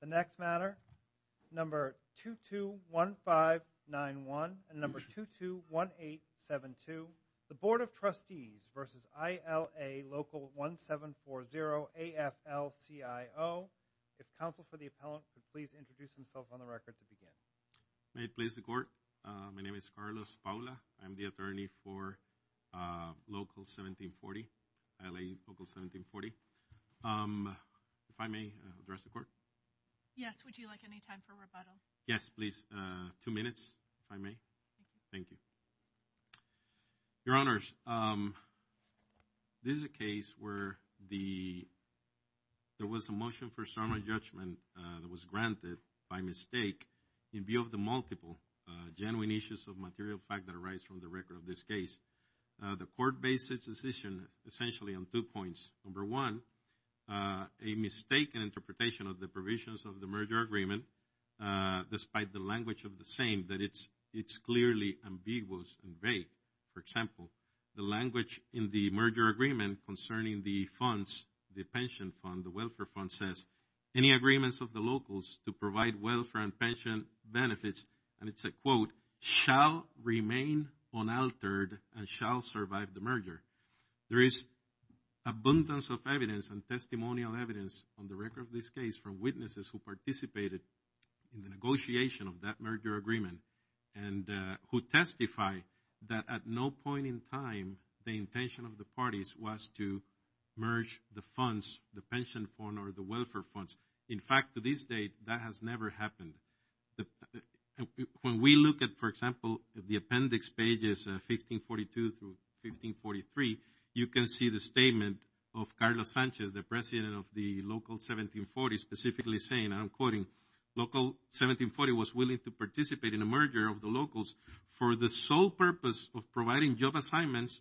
The next matter, number 221591 and number 221872 The Board of Trustees v. ILA Local 1740, AFL-CIO If counsel for the appellant could please introduce themselves on the record to begin May it please the court, my name is Carlos Paula I'm the attorney for Local 1740, ILA Local 1740 If I may address the court Yes, would you like any time for rebuttal? Yes please, 2 minutes if I may, thank you Your honors, this is a case where there was a motion for summary judgment that was granted by mistake In view of the multiple genuine issues of material fact that arise from the record of this case The court based its decision essentially on two points Number one, a mistaken interpretation of the provisions of the merger agreement Despite the language of the same, that it's clearly ambiguous and vague For example, the language in the merger agreement concerning the funds, the pension fund, the welfare fund says Any agreements of the locals to provide welfare and pension benefits And it's a quote, shall remain unaltered and shall survive the merger There is abundance of evidence and testimonial evidence on the record of this case From witnesses who participated in the negotiation of that merger agreement And who testify that at no point in time the intention of the parties was to merge the funds The pension fund or the welfare funds In fact to this date that has never happened When we look at for example, the appendix pages 1542 to 1543 You can see the statement of Carlos Sanchez, the president of the local 1740 Specifically saying, and I'm quoting Local 1740 was willing to participate in a merger of the locals For the sole purpose of providing job assignments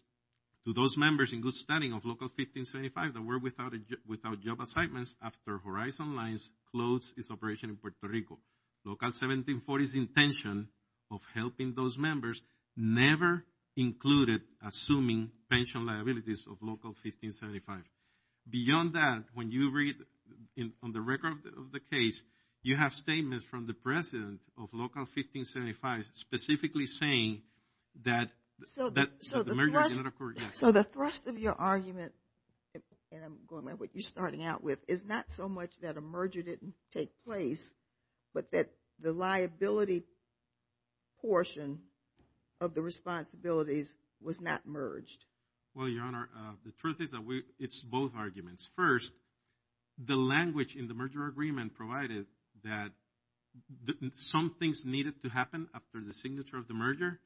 To those members in good standing of local 1575 That were without job assignments after Horizon Lines closed its operation in Puerto Rico Local 1740's intention of helping those members Never included assuming pension liabilities of local 1575 Beyond that, when you read on the record of the case You have statements from the president of local 1575 Specifically saying that the merger did not occur So the thrust of your argument And I'm going by what you're starting out with Is not so much that a merger didn't take place But that the liability portion of the responsibilities was not merged Well your honor, the truth is that it's both arguments First, the language in the merger agreement provided That some things needed to happen after the signature of the merger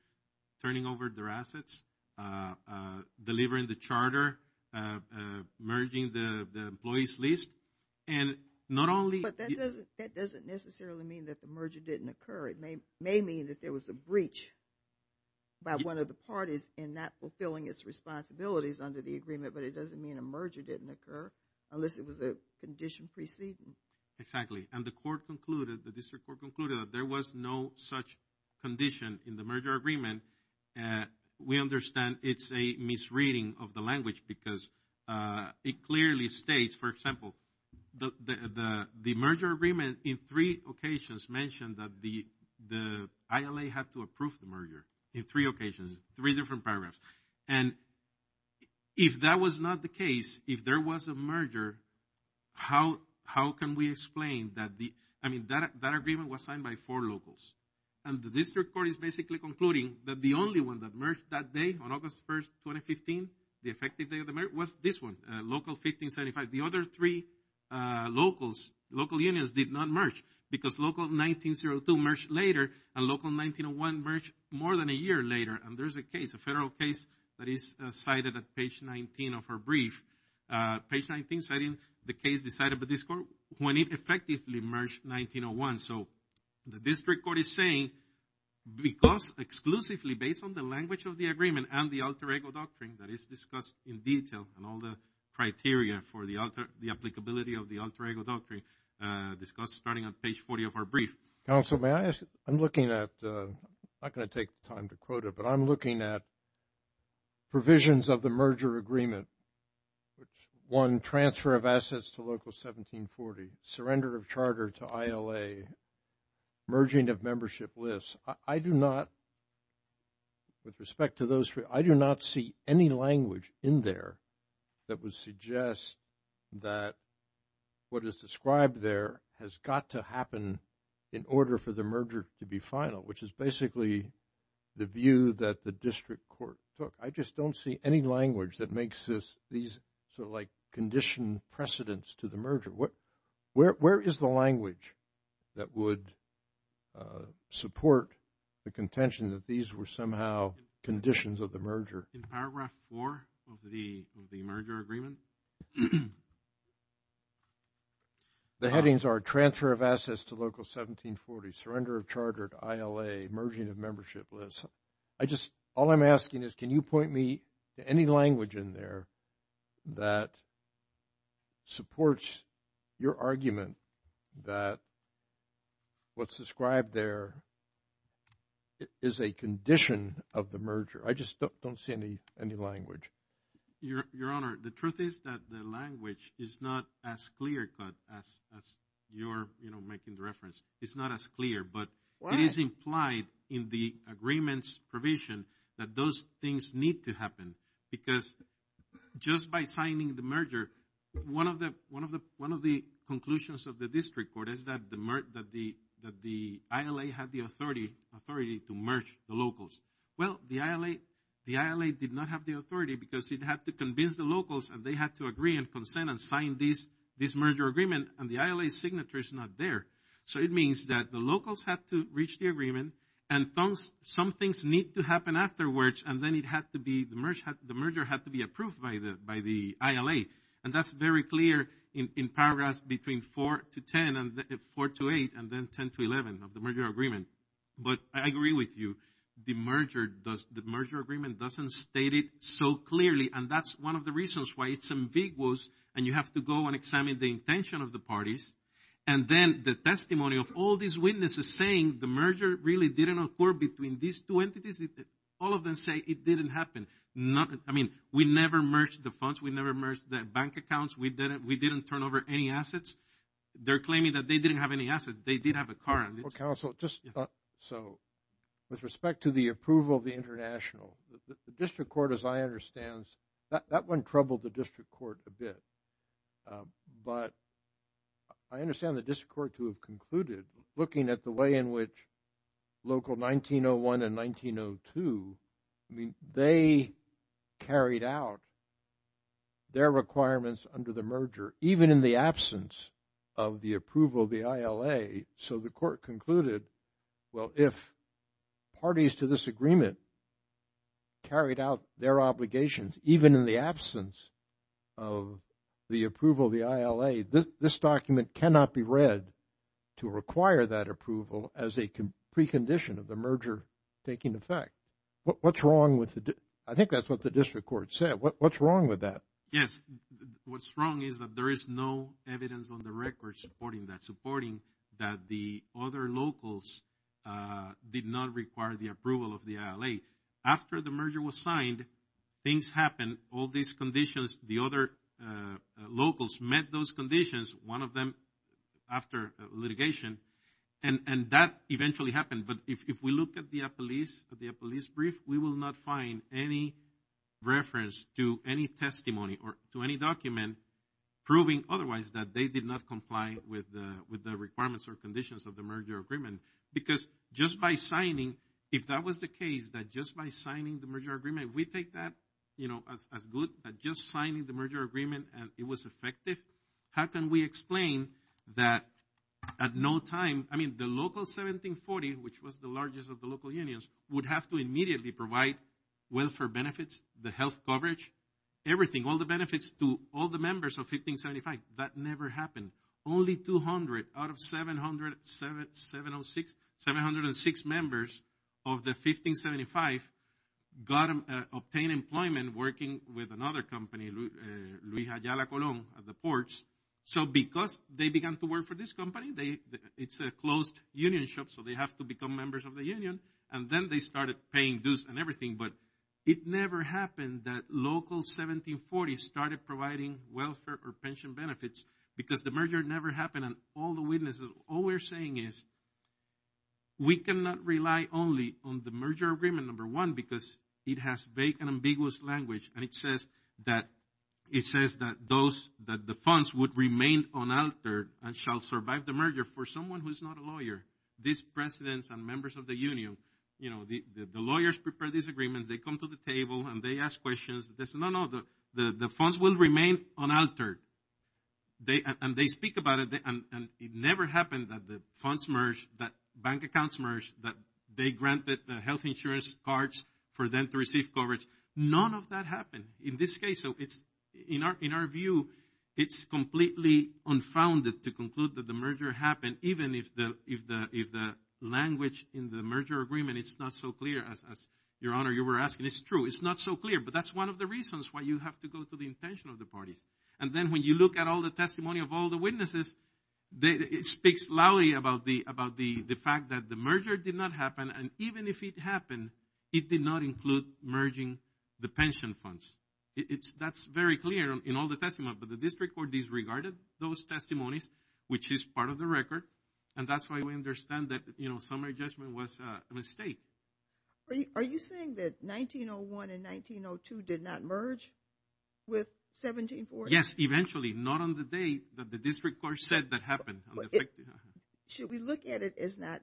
Turning over their assets, delivering the charter Merging the employees list But that doesn't necessarily mean that the merger didn't occur It may mean that there was a breach by one of the parties In not fulfilling its responsibilities under the agreement But it doesn't mean a merger didn't occur Unless it was a condition preceding Exactly, and the court concluded, the district court concluded That there was no such condition in the merger agreement We understand it's a misreading of the language Because it clearly states, for example The merger agreement in three occasions mentioned That the ILA had to approve the merger In three occasions, three different paragraphs And if that was not the case, if there was a merger How can we explain that the I mean, that agreement was signed by four locals And the district court is basically concluding That the only one that merged that day, on August 1st, 2015 The effective day of the merger, was this one Local 1575, the other three local unions did not merge Because local 1902 merged later And local 1901 merged more than a year later And there's a case, a federal case That is cited at page 19 of our brief Page 19 citing the case decided by this court When it effectively merged 1901 So the district court is saying Because exclusively based on the language of the agreement And the Alter Ego Doctrine that is discussed in detail And all the criteria for the alter The applicability of the Alter Ego Doctrine Discussed starting on page 40 of our brief Counsel, may I ask, I'm looking at I'm not going to take time to quote it But I'm looking at provisions of the merger agreement One, transfer of assets to local 1740 Surrender of charter to ILA Merging of membership lists I do not, with respect to those three I do not see any language in there That would suggest that What is described there has got to happen In order for the merger to be final Which is basically the view that the district court took I just don't see any language that makes this Sort of like condition precedence to the merger Where is the language that would Support the contention that these were somehow Conditions of the merger In paragraph 4 of the merger agreement The headings are transfer of assets to local 1740 Surrender of charter to ILA Merging of membership lists I just, all I'm asking is can you point me To any language in there that Supports your argument that What's described there Is a condition of the merger I just don't see any language Your honor, the truth is that the language Is not as clear cut as You're, you know, making the reference It's not as clear but It is implied in the agreements provision That those things need to happen Because just by signing the merger One of the conclusions of the district court Is that the ILA had the authority To merge the locals Well, the ILA did not have the authority Because it had to convince the locals And they had to agree and consent and sign This merger agreement And the ILA signature is not there So it means that the locals had to reach the agreement And some things need to happen afterwards And then it had to be, the merger had to be Approved by the ILA And that's very clear in paragraphs Between 4 to 10 and 4 to 8 And then 10 to 11 of the merger agreement But I agree with you The merger agreement doesn't state it so clearly And that's one of the reasons why it's ambiguous And you have to go and examine The intention of the parties And then the testimony of all these witnesses Saying the merger really didn't occur Between these two entities All of them say it didn't happen I mean, we never merged the funds We never merged the bank accounts We didn't turn over any assets They're claiming that they didn't have any assets They did have a car Well, counsel, just With respect to the approval of the international The district court, as I understand That one troubled the district court a bit But I understand the district court to have concluded Looking at the way in which Local 1901 and 1902 I mean, they Carried out Their requirements under the merger Even in the absence Of the approval of the ILA So the court concluded Well, if parties to this agreement Carried out their obligations Even in the absence Of the approval of the ILA This document cannot be read To require that approval As a precondition of the merger Taking effect What's wrong with the I think that's what the district court said What's wrong with that? Yes, what's wrong is that There is no evidence on the record Supporting that, supporting that The other locals Did not require the approval of the ILA After the merger was signed Things happened All these conditions The other locals met those conditions One of them After litigation And that eventually happened But if we look at the police brief We will not find any Reference to any testimony Or to any document Proving otherwise that they did not comply With the requirements or conditions Of the merger agreement Because just by signing If that was the case That just by signing the merger agreement We take that as good Just signing the merger agreement And it was effective How can we explain that At no time, I mean the local 1740 Which was the largest of the local unions Would have to immediately provide Welfare benefits, the health coverage Everything, all the benefits To all the members of 1575 That never happened Only 200 out of 706 Members of the 1575 Obtained employment Working with another company Luija Yala Colon At the ports So because they began to work for this company It's a closed union shop So they have to become members of the union And then they started paying dues and everything But it never happened That local 1740 started Providing welfare or pension benefits Because the merger never happened And all the witnesses, all we're saying is We cannot rely Only on the merger agreement Number one, because it has vague And ambiguous language And it says that The funds would remain unaltered And shall survive the merger For someone who is not a lawyer These presidents and members of the union The lawyers prepare this agreement They come to the table and they ask questions They say no, no, the funds will remain Unaltered And they speak about it And it never happened that the funds merged That bank accounts merged That they granted the health insurance cards For them to receive coverage None of that happened In this case, in our view It's completely Unfounded to conclude that the merger happened Even if the Language in the merger agreement Is not so clear as Your Honor, you were asking, it's true, it's not so clear But that's one of the reasons why you have to go to the Intention of the parties And then when you look at all the testimony Of all the witnesses It speaks loudly about The fact that the merger did not happen And even if it happened It did not include merging The pension funds That's very clear in all the testimony But the district court disregarded those testimonies Which is part of the record And that's why we understand that The summary judgment was a mistake Are you saying that 1901 and 1902 did not merge With 1740? Yes, eventually, not on the date That the district court said that happened Should we look at it as Not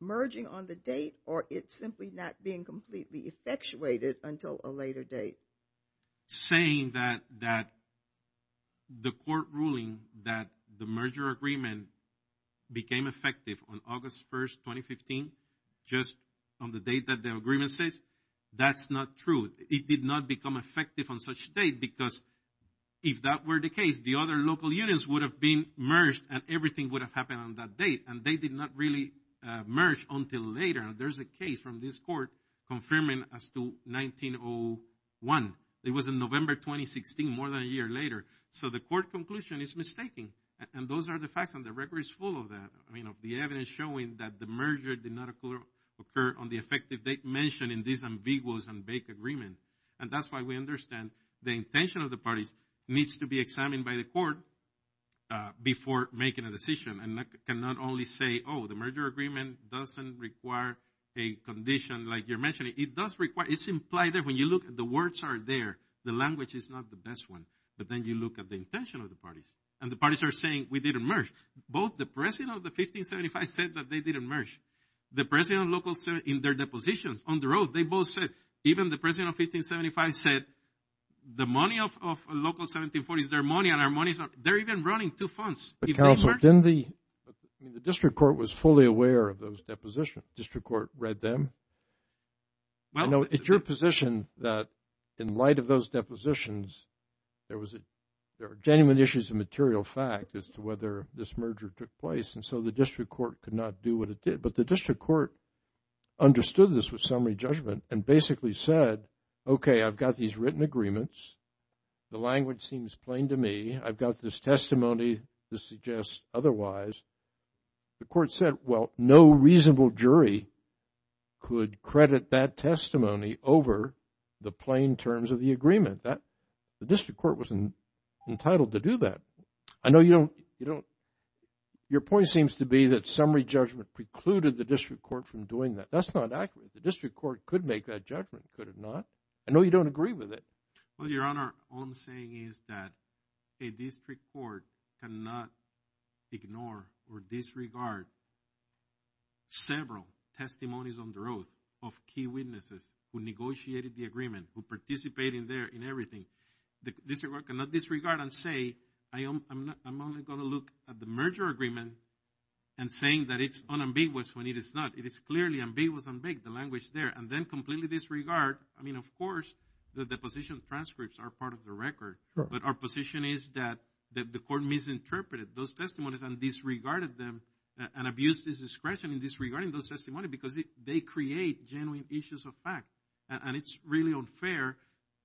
merging on the date Or it simply not being completely Effectuated until a later date Saying that That The court ruling that the merger Agreement became Effective on August 1st, 2015 Just on the date that The agreement says, that's not True, it did not become effective On such a date because If that were the case, the other local unions Would have been merged and everything Would have happened on that date And they did not really merge until later And there's a case from this court Confirming as to 1901 It was in November 2016 More than a year later So the court conclusion is mistaken And those are the facts and the record is full of that The evidence showing that the merger Did not occur on the effective date There's no intention in this ambiguous and vague agreement And that's why we understand The intention of the parties needs to be Examined by the court Before making a decision And not only say, oh, the merger agreement Doesn't require a Condition like you're mentioning It's implied that when you look at the words Are there, the language is not the best one But then you look at the intention of the parties And the parties are saying, we didn't merge Both the president of the 1575 Said that they didn't merge The president of local In their depositions on the road, they both said Even the president of 1575 said The money of local 1740 is their money and our money is They're even running two funds The district court was Fully aware of those depositions The district court read them I know it's your position That in light of those depositions There were Genuine issues of material fact As to whether this merger took place And so the district court could not do what it did But the district court Understood this was summary judgment and basically Said, okay, I've got these Written agreements, the language Seems plain to me, I've got this Testimony to suggest Otherwise, the court Said, well, no reasonable jury Could credit That testimony over The plain terms of the agreement The district court was Entitled to do that I know you don't Your point seems to be that summary judgment Precluded the district court from doing that That's not accurate, the district court could make That judgment, could it not? I know you don't agree with it Well, your honor, all I'm saying is that A district court cannot Ignore or disregard Several Testimonies on the road Of key witnesses who negotiated The agreement, who participated In everything The district court cannot disregard And say, I'm only Going to look at the merger agreement And saying that it's unambiguous When it is not, it is clearly ambiguous The language there, and then completely disregard I mean, of course The position transcripts are part of the record But our position is that The court misinterpreted those testimonies And disregarded them And abused his discretion in disregarding those testimonies Because they create genuine Issues of fact, and it's really Unfair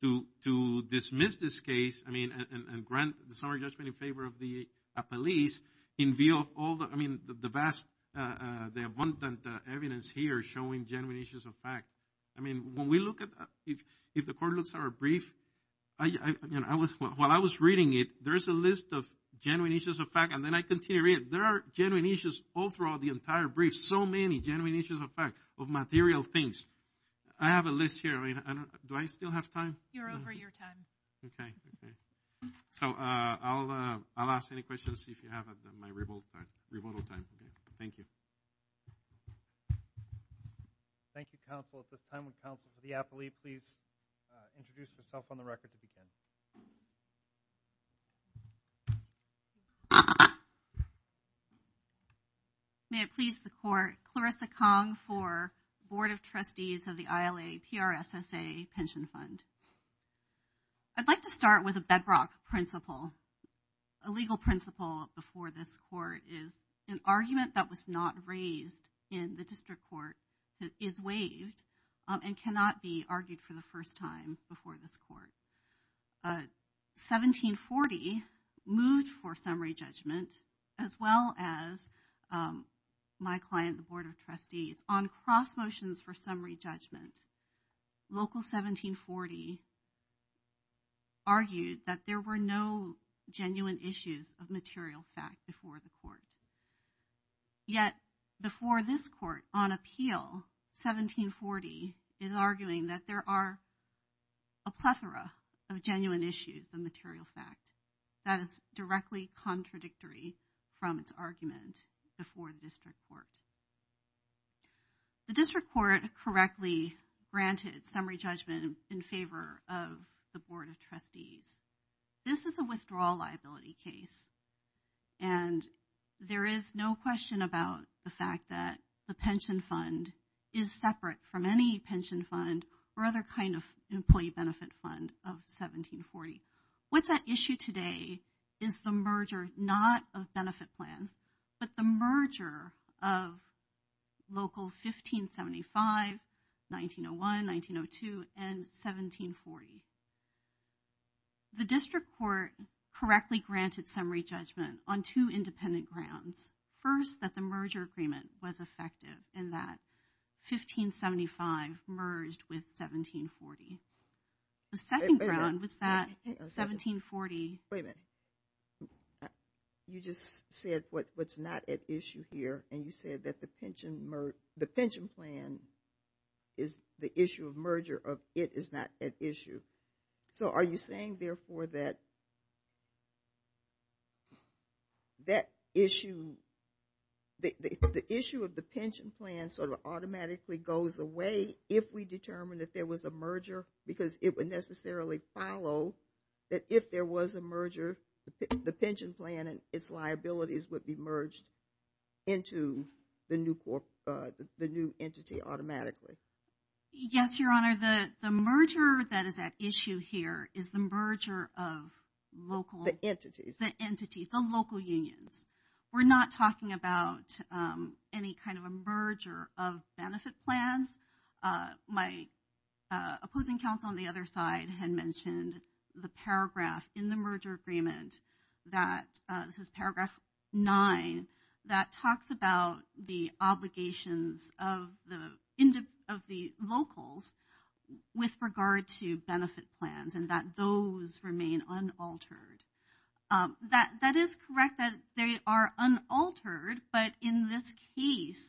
to Dismiss this case And grant the summary judgment in favor of the Police I mean, the vast The abundant evidence here Showing genuine issues of fact I mean, when we look at If the court looks at our brief While I was reading it There's a list of genuine issues of fact And then I continue reading, there are genuine issues All throughout the entire brief, so many Genuine issues of fact, of material things I have a list here Do I still have time? You're over your time So, I'll ask any questions If you have at my rebuttal time Thank you Thank you, counsel At this time, would the appellee please Introduce herself on the record to begin May it please the court, Clarissa Kong For board of trustees Of the ILA PRSSA pension Fund I'd like to start with a bedrock principle A legal principle Before this court is An argument that was not raised In the district court Is waived, and cannot be Argued for the first time before this Court 1740 Moved for summary judgment As well as My client, the board of trustees On cross motions for summary Judgment Local 1740 Argued that there were No genuine issues Of material fact before the court Yet Before this court, on appeal 1740 Is arguing that there are A plethora of genuine issues Of material fact That is directly contradictory From its argument Before this court The district court Correctly granted summary Judgment in favor of The board of trustees This is a withdrawal liability case And There is no question about The fact that the pension fund Is separate from any pension Fund or other kind of Employee benefit fund of 1740 What's at issue today Is the merger Not of benefit plans But the merger of Local 1575 1901, 1902 And 1740 The district court Correctly granted summary judgment On two independent grounds First that the merger agreement Was effective in that 1575 merged With 1740 The second ground was that 1740 Wait a minute You just said what's not at issue Here and you said that the pension The pension plan Is the issue of merger Of it is not at issue So are you saying therefore that That issue The issue Of the pension plan sort of Automatically goes away if we Determine that there was a merger Because it would necessarily follow That if there was a merger The pension plan And its liabilities would be merged Into the new Entity automatically Yes your honor The merger that is at issue Here is the merger of Local entities The local unions We're not talking about Any kind of a merger of Benefit plans My Opposing counsel on the other side Had mentioned the paragraph In the merger agreement That this is paragraph Nine that talks about The obligations of The Locals with regard To benefit plans and that those Remain unaltered That that is correct That they are unaltered But in this case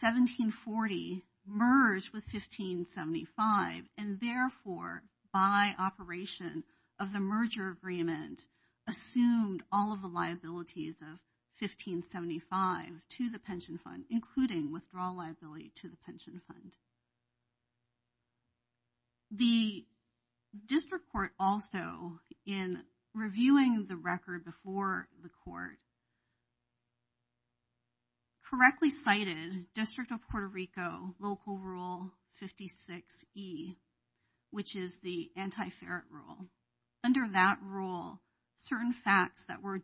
1740 Merged with 1575 And therefore By operation Of the merger agreement Assumed all of the liabilities Of 1575 To the pension fund including Withdrawal liability to the pension fund The District court also in Reviewing the record before The court Correctly Cited district of Puerto Rico local rule 56e Which is the anti ferret rule Under that rule Certain facts that were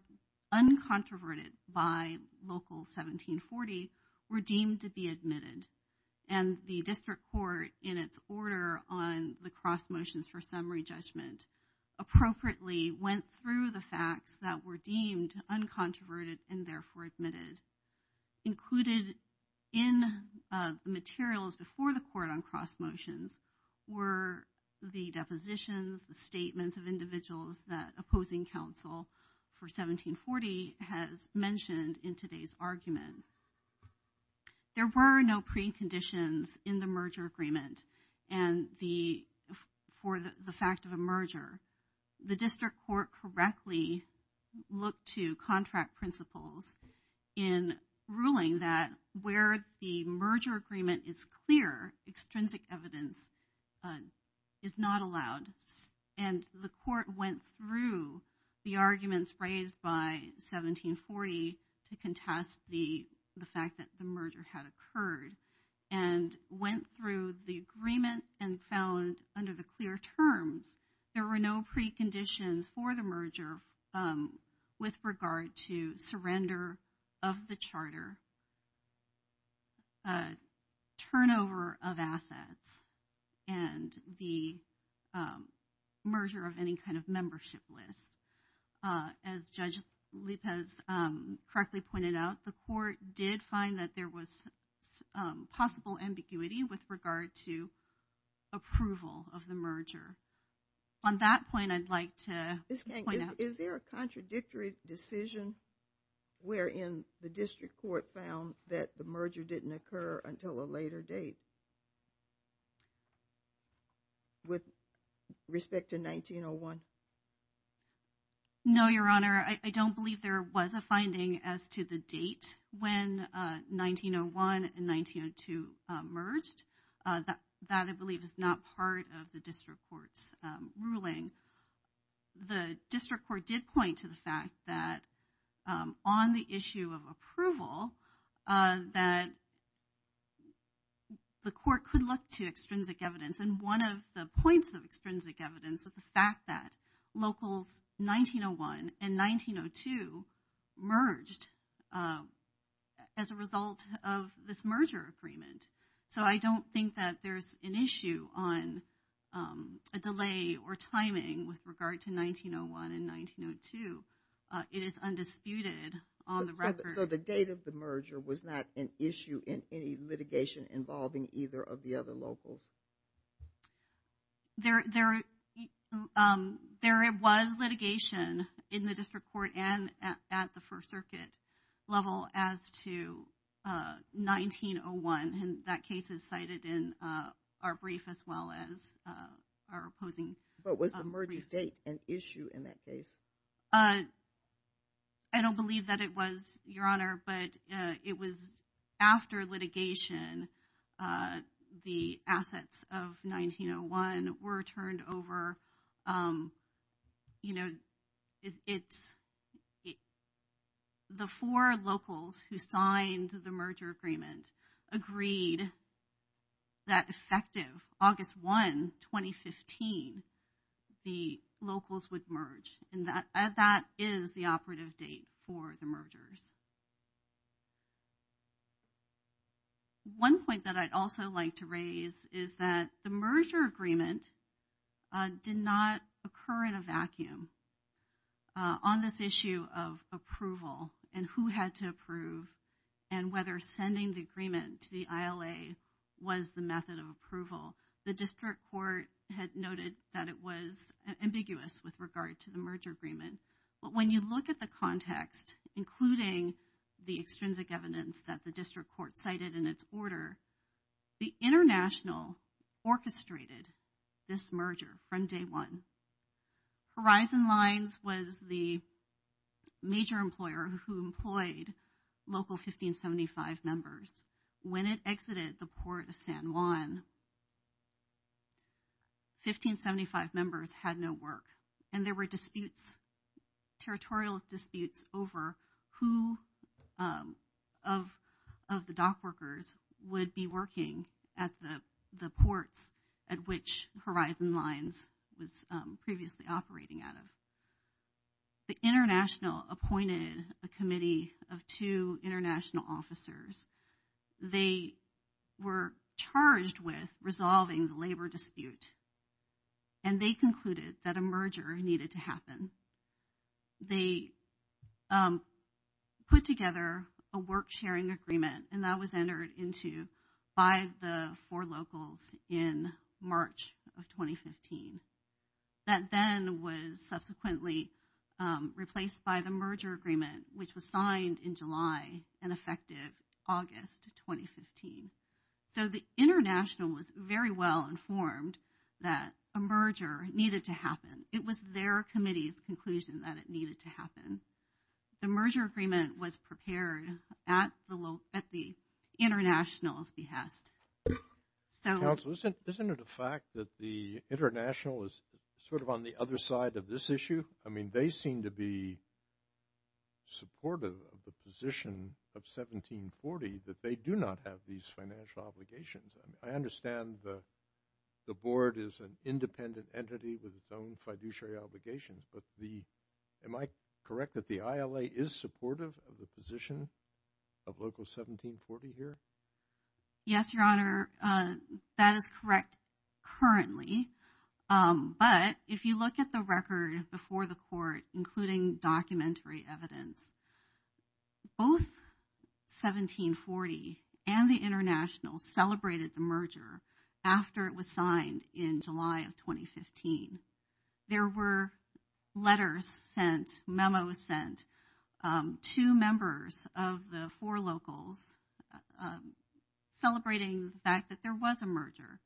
Uncontroverted by Local 1740 were Deemed to be admitted and The district court in its Order on the cross motions for Summary judgment appropriately Went through the facts that Were deemed uncontroverted and Therefore admitted Included in Materials before the court on cross Motions were The depositions the statements Of individuals that opposing council For 1740 Has mentioned in today's Argument There were no preconditions In the merger agreement and The for the fact Of a merger the district Court correctly Looked to contract principles In ruling that Where the merger agreement Is clear extrinsic Evidence Is not allowed and The court went through The arguments raised by 1740 to contest The fact that the merger Had occurred and Went through the agreement and Found under the clear terms There were no preconditions For the merger With regard to surrender Of the charter Turnover of assets And the Merger of any Kind of membership list As judge Has correctly pointed out the Court did find that there was Possible ambiguity With regard to On that point I'd like to Is there a contradictory Decision where In the district court found That the merger didn't occur until A later date With Respect to 1901 No Your honor I don't believe there was A finding as to the date When 1901 And 1902 merged That I believe is not Part of the district court's Ruling The district court did point to the fact That on the issue Of approval That The court could look to Extrinsic evidence and one of the points Of extrinsic evidence is the fact that Locals 1901 And 1902 Merged As a result of this Merger agreement so I don't Think that there's an issue on A delay Or timing with regard to 1901 And 1902 It is undisputed on the record So the date of the merger was not An issue in any litigation Involving either of the other locals There There was litigation In the district court and at the First circuit level as To 1901 And that case is cited in Our brief as well as Our opposing But was the merger date an issue in that case? I don't believe that it was, Your Honor But it was After litigation The assets of 1901 were turned over You know The four locals who signed The merger agreement Agreed That effective August 1 2015 The locals would merge And that is the operative Date for the mergers One point that I'd Also like to raise is that The merger agreement Did not occur in a Vacuum On this issue of approval And who had to approve And whether sending the agreement To the ILA was the method of approval The district court Had noted that it was Ambiguous with regard to the merger agreement But when you look at the context Including The extrinsic evidence that the district court Cited in its order The international Orchestrated this merger From day one Horizon Lines was the Major employer who employed Local 1575 Members. When it exited The port of San Juan 1575 members had no work And there were disputes Territorial disputes over Who Of the dock workers Would be working At the ports At which Horizon Lines Was previously operating out of The international Appointed a committee of Two international officers They Were charged with resolving The labor dispute And they concluded that a merger Needed to happen They Put together a work Sharing agreement and that was entered Into by the Four locals in March Of 2015 That then Was subsequently Replaced by the merger agreement Which was signed in July And effective August 2015 So the international Was very well informed That a merger needed To happen. It was their committee's Conclusion that it needed to happen The merger agreement was Prepared at the International's behest So Counsel, isn't it a fact that The international is sort of On the other side of this issue? I mean They seem to be Supportive of the position Of 1740 that they Do not have these financial obligations And I understand the Board is an independent Entity with its own fiduciary obligation But the, am I Correct that the ILA is supportive Of the position of local 1740 here? Yes, your honor That is correct Currently But if you look at the record Before the court including documentary Evidence Both 1740 and the international Celebrated the merger After it was signed in July Of 2015 There were letters Sent, memos sent To members of the Four locals Celebrating the fact that there Was a merger,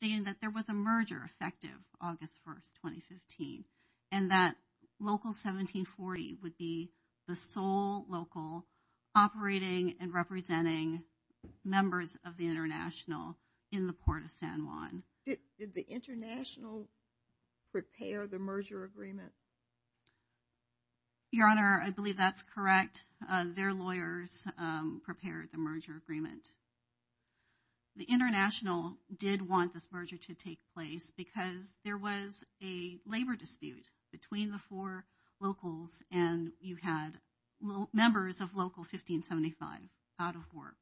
stating that there was A merger effective August 1st 2015 and that Local 1740 would be The sole local Operating and representing Members of the international In the port of San Juan Did the international Prepare the merger Agreement? Your honor, I believe that's correct Their lawyers Prepared the merger agreement The international Did want this merger to take place Because there was a Labor dispute between the four Locals and you had Members of local 1575 out of work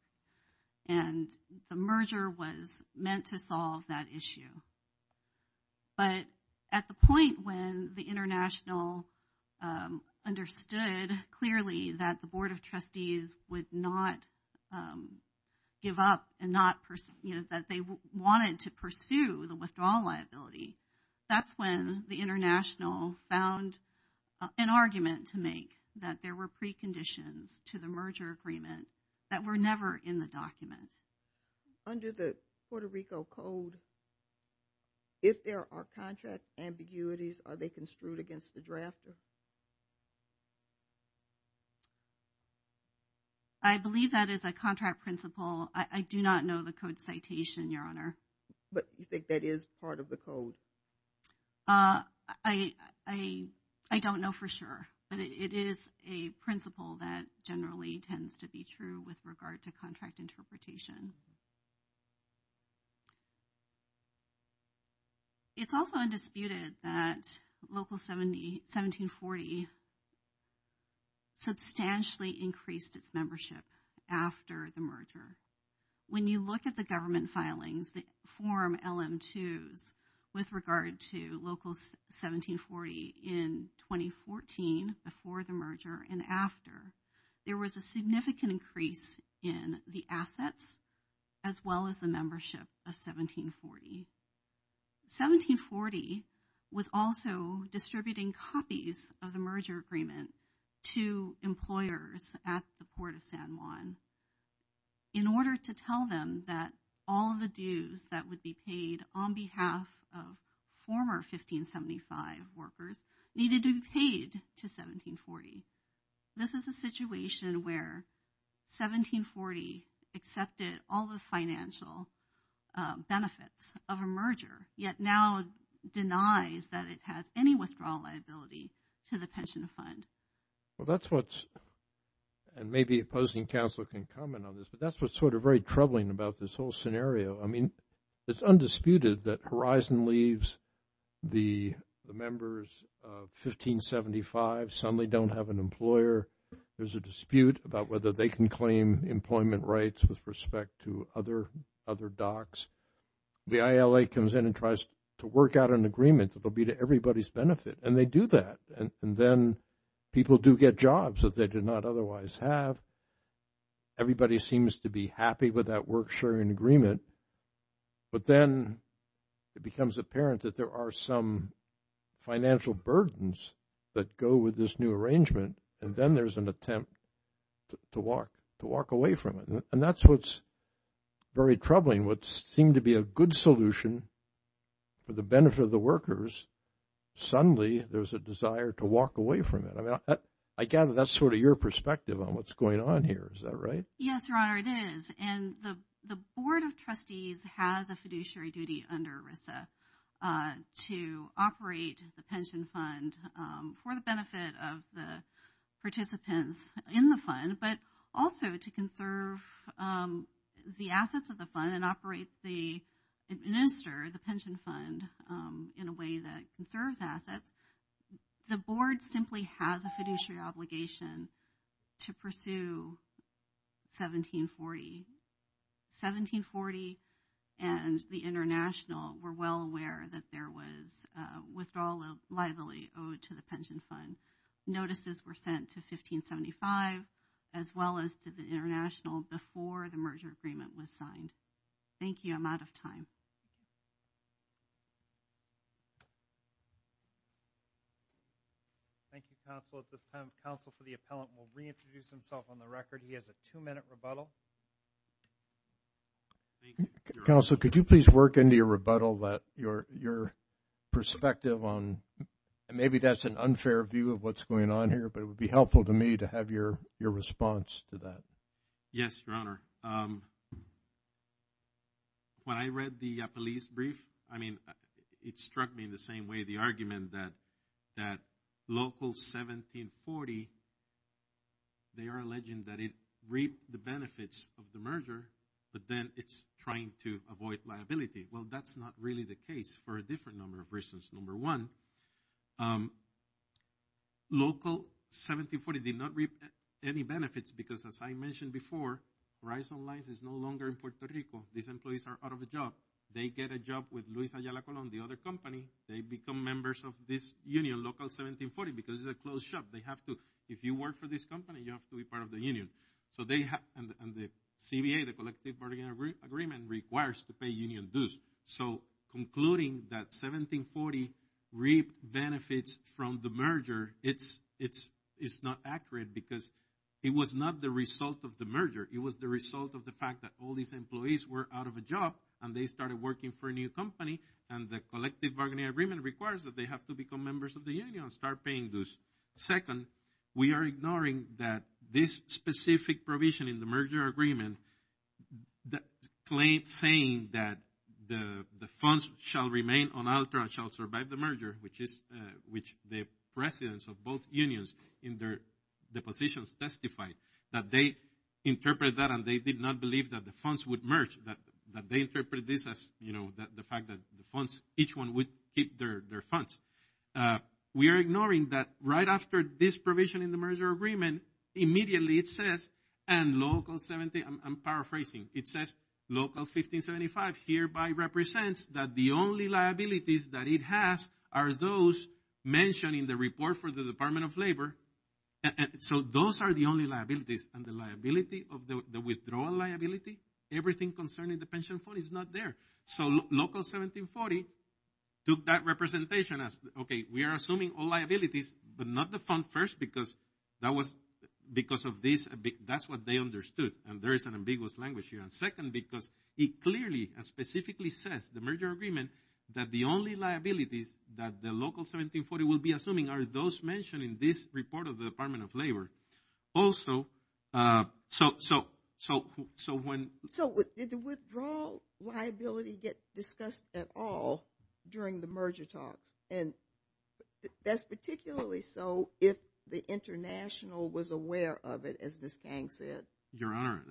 And the merger Was meant to solve that issue But At the point when the international Understood Clearly that the board of trustees Would not Give up and not That they wanted to pursue The withdrawal liability That's when the international Found an argument To make that there were preconditions To the merger agreement That were never in the document Under the Puerto Rico Code If there are contract ambiguities Are they construed against the draft I Believe that is a contract Principle I do not know the code Citation your honor but you Think that is part of the code I I don't know for sure But it is a principle That generally tends to be true With regard to contract interpretation It's also undisputed that Local 1740 Substantially increased its membership After the merger When you look at the government Filings that form LM2s with regard to Local 1740 In 2014 Before the merger and after There was a significant increase In the assets As well as the membership of 1740 1740 Was also distributing Copies of the merger agreement To employers At the port of San Juan In order to tell them That all the dues That would be paid on behalf Of former 1575 Workers needed to be paid To 1740 This is the situation where 1740 Accepted all the financial Benefits of a merger Yet now denies That it has any withdrawal liability To the pension fund Well that's what And maybe opposing counsel can comment on this But that's what's sort of very troubling About this whole scenario I mean it's undisputed that Horizon Leaves the Members of 1575 Suddenly don't have an employer There's a dispute about whether They can claim employment rights With respect to other Docs The ILA comes in and tries to work out an agreement That will be to everybody's benefit And they do that And then people do get jobs that they did not Otherwise have Everybody seems to be happy with that Work sharing agreement But then It becomes apparent that there are some Financial burdens That go with this new arrangement And then there's an attempt To walk Away from it and that's what's Very troubling what seemed to be A good solution For the benefit of the workers Suddenly there's a desire to Walk away from it That's sort of your perspective on what's going on Here is that right? Yes your honor it is And the board of trustees Has a fiduciary duty Under RISA To operate the pension fund For the benefit of the In the fund but also to Conserve The assets of the fund and operate the Administer the pension fund In a way that Conserves assets The board simply has a fiduciary Obligation to pursue 1740 1740 And the international Were well aware that there was Withdrawal of liability Owed to the pension fund Notices were sent to 1575 as well as To the international before the merger Agreement was signed Thank you I'm out of time Thank you counsel Counsel for the appellant will reintroduce Himself on the record he has a two minute rebuttal Counsel could you please Work into your rebuttal that your Perspective on And maybe that's an unfair view of what's Going on here but it would be helpful to me to have Your response to that Yes your honor When I read the police brief I mean it struck me in the same way The argument that Local 1740 They are Alleging that it reaped the benefits Trying to avoid liability Well that's not really the case for a different Number of reasons number one Local 1740 did not reap Any benefits because as I mentioned Before Horizon Lines is no longer In Puerto Rico these employees are out of The job they get a job with The other company they become Members of this union Local 1740 Because it's a closed shop they have to If you work for this company you have to be part of the Union so they have and the CBA the collective bargaining agreement Requires to pay union dues So concluding that 1740 reap benefits From the merger It's not accurate Because it was not the result Of the merger it was the result of the fact That all these employees were out of a job And they started working for a new company And the collective bargaining agreement Requires that they have to become members of the union And start paying dues second We are ignoring that this Specific provision in the merger Agreement That Claims saying that The funds shall remain on Altra shall survive the merger which is Which the presidents of both Unions in their Depositions testified that they Interpret that and they did not believe That the funds would merge that They interpret this as you know the fact That the funds each one would keep their Funds we are Ignoring that right after this provision In the merger agreement immediately It says and local I'm paraphrasing it says Local 1575 hereby Represents that the only liabilities That it has are those Mentioned in the report for the Department of Labor Those are the only liabilities and the Liability of the withdrawal liability Everything concerning the pension fund Is not there so local 1740 took that representation As okay we are assuming all Liabilities but not the fund first because That was because of this That's what they understood and there is An ambiguous language here and second because It clearly and specifically says The merger agreement that the only Liabilities that the local 1740 Will be assuming are those mentioned in This report of the Department of Labor Also So when So did the withdrawal Liability get discussed at all During the merger talks And that's particularly So if the international Was aware of it as Miss Kang said your honor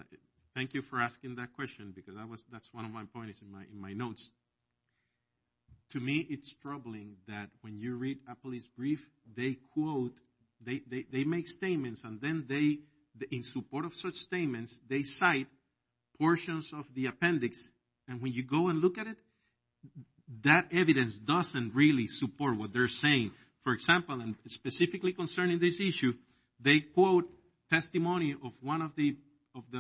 Thank you for asking that question because That's one of my points in my notes To me It's troubling that when you read A police brief they quote They make statements and then They in support of such Statements they cite Portions of the appendix and when You go and look at it That evidence doesn't really Support what they're saying for example And specifically concerning this issue They quote testimony Of one of the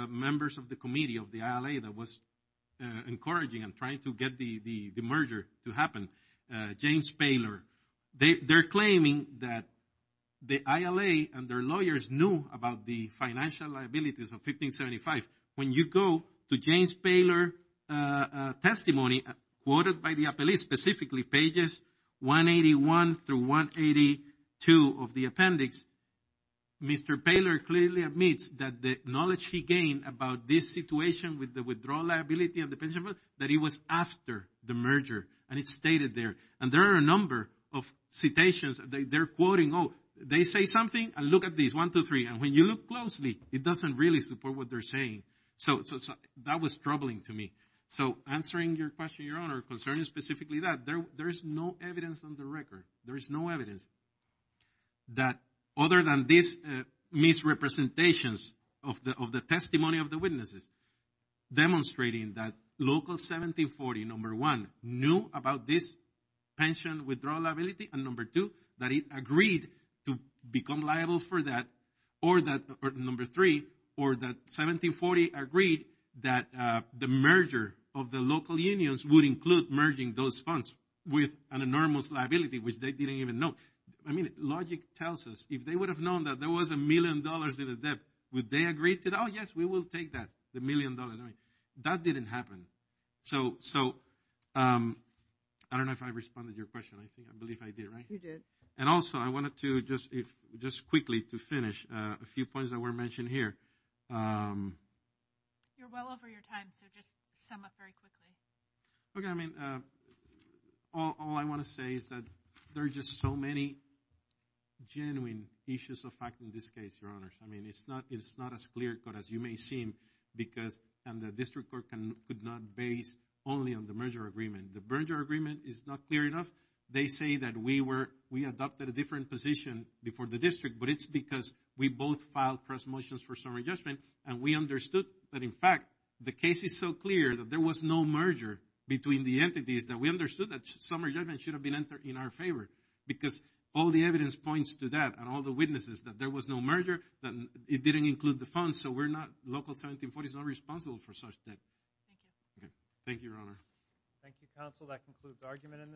Members of the committee of the ILA that was Encouraging and trying to get The merger to happen James Paylor They're claiming that The ILA and their lawyers knew About the financial liabilities Of 1575 when you go To James Paylor Testimony quoted by the 181 through 182 Of the appendix Mr. Paylor clearly admits That the knowledge he gained about This situation with the withdrawal liability Of the pension fund that it was after The merger and it's stated there And there are a number of citations That they're quoting oh They say something and look at these 1, 2, 3 And when you look closely it doesn't really support What they're saying so That was troubling to me so Answering your question your honor concerning Specifically that there's no evidence On the record there's no evidence That other than This misrepresentations Of the testimony of the Witnesses demonstrating That local 1740 Number one knew about this Pension withdrawal liability And number two that it agreed To become liable for that Or that number three Or that 1740 agreed That the merger of The local unions would include merging Those funds with an enormous Liability which they didn't even know I mean logic tells us if they would have Known that there was a million dollars in a debt Would they agree to that oh yes we will take That the million dollars that didn't Happen so So I don't know if I Responded your question I think I believe I did right You did and also I wanted to just If just quickly to finish A few points that were mentioned here You're well Over your time so just sum up very quickly Okay I mean All I want to say is that There are just so many Genuine issues of Fact in this case your honors I mean it's not It's not as clear cut as you may seem Because and the district court Could not base only on the merger Agreement the merger agreement is not clear Enough they say that we were We adopted a different position Before the district but it's because we both Filed press motions for summary judgment And we understood that in fact The case is so clear that there was no Merger between the entities that We understood that summary judgment should have been entered In our favor because all the Evidence points to that and all the witnesses That there was no merger that it didn't Include the funds so we're not local 1740 is not responsible for such debt Thank you your honor Thank you counsel that concludes the argument in this Hearing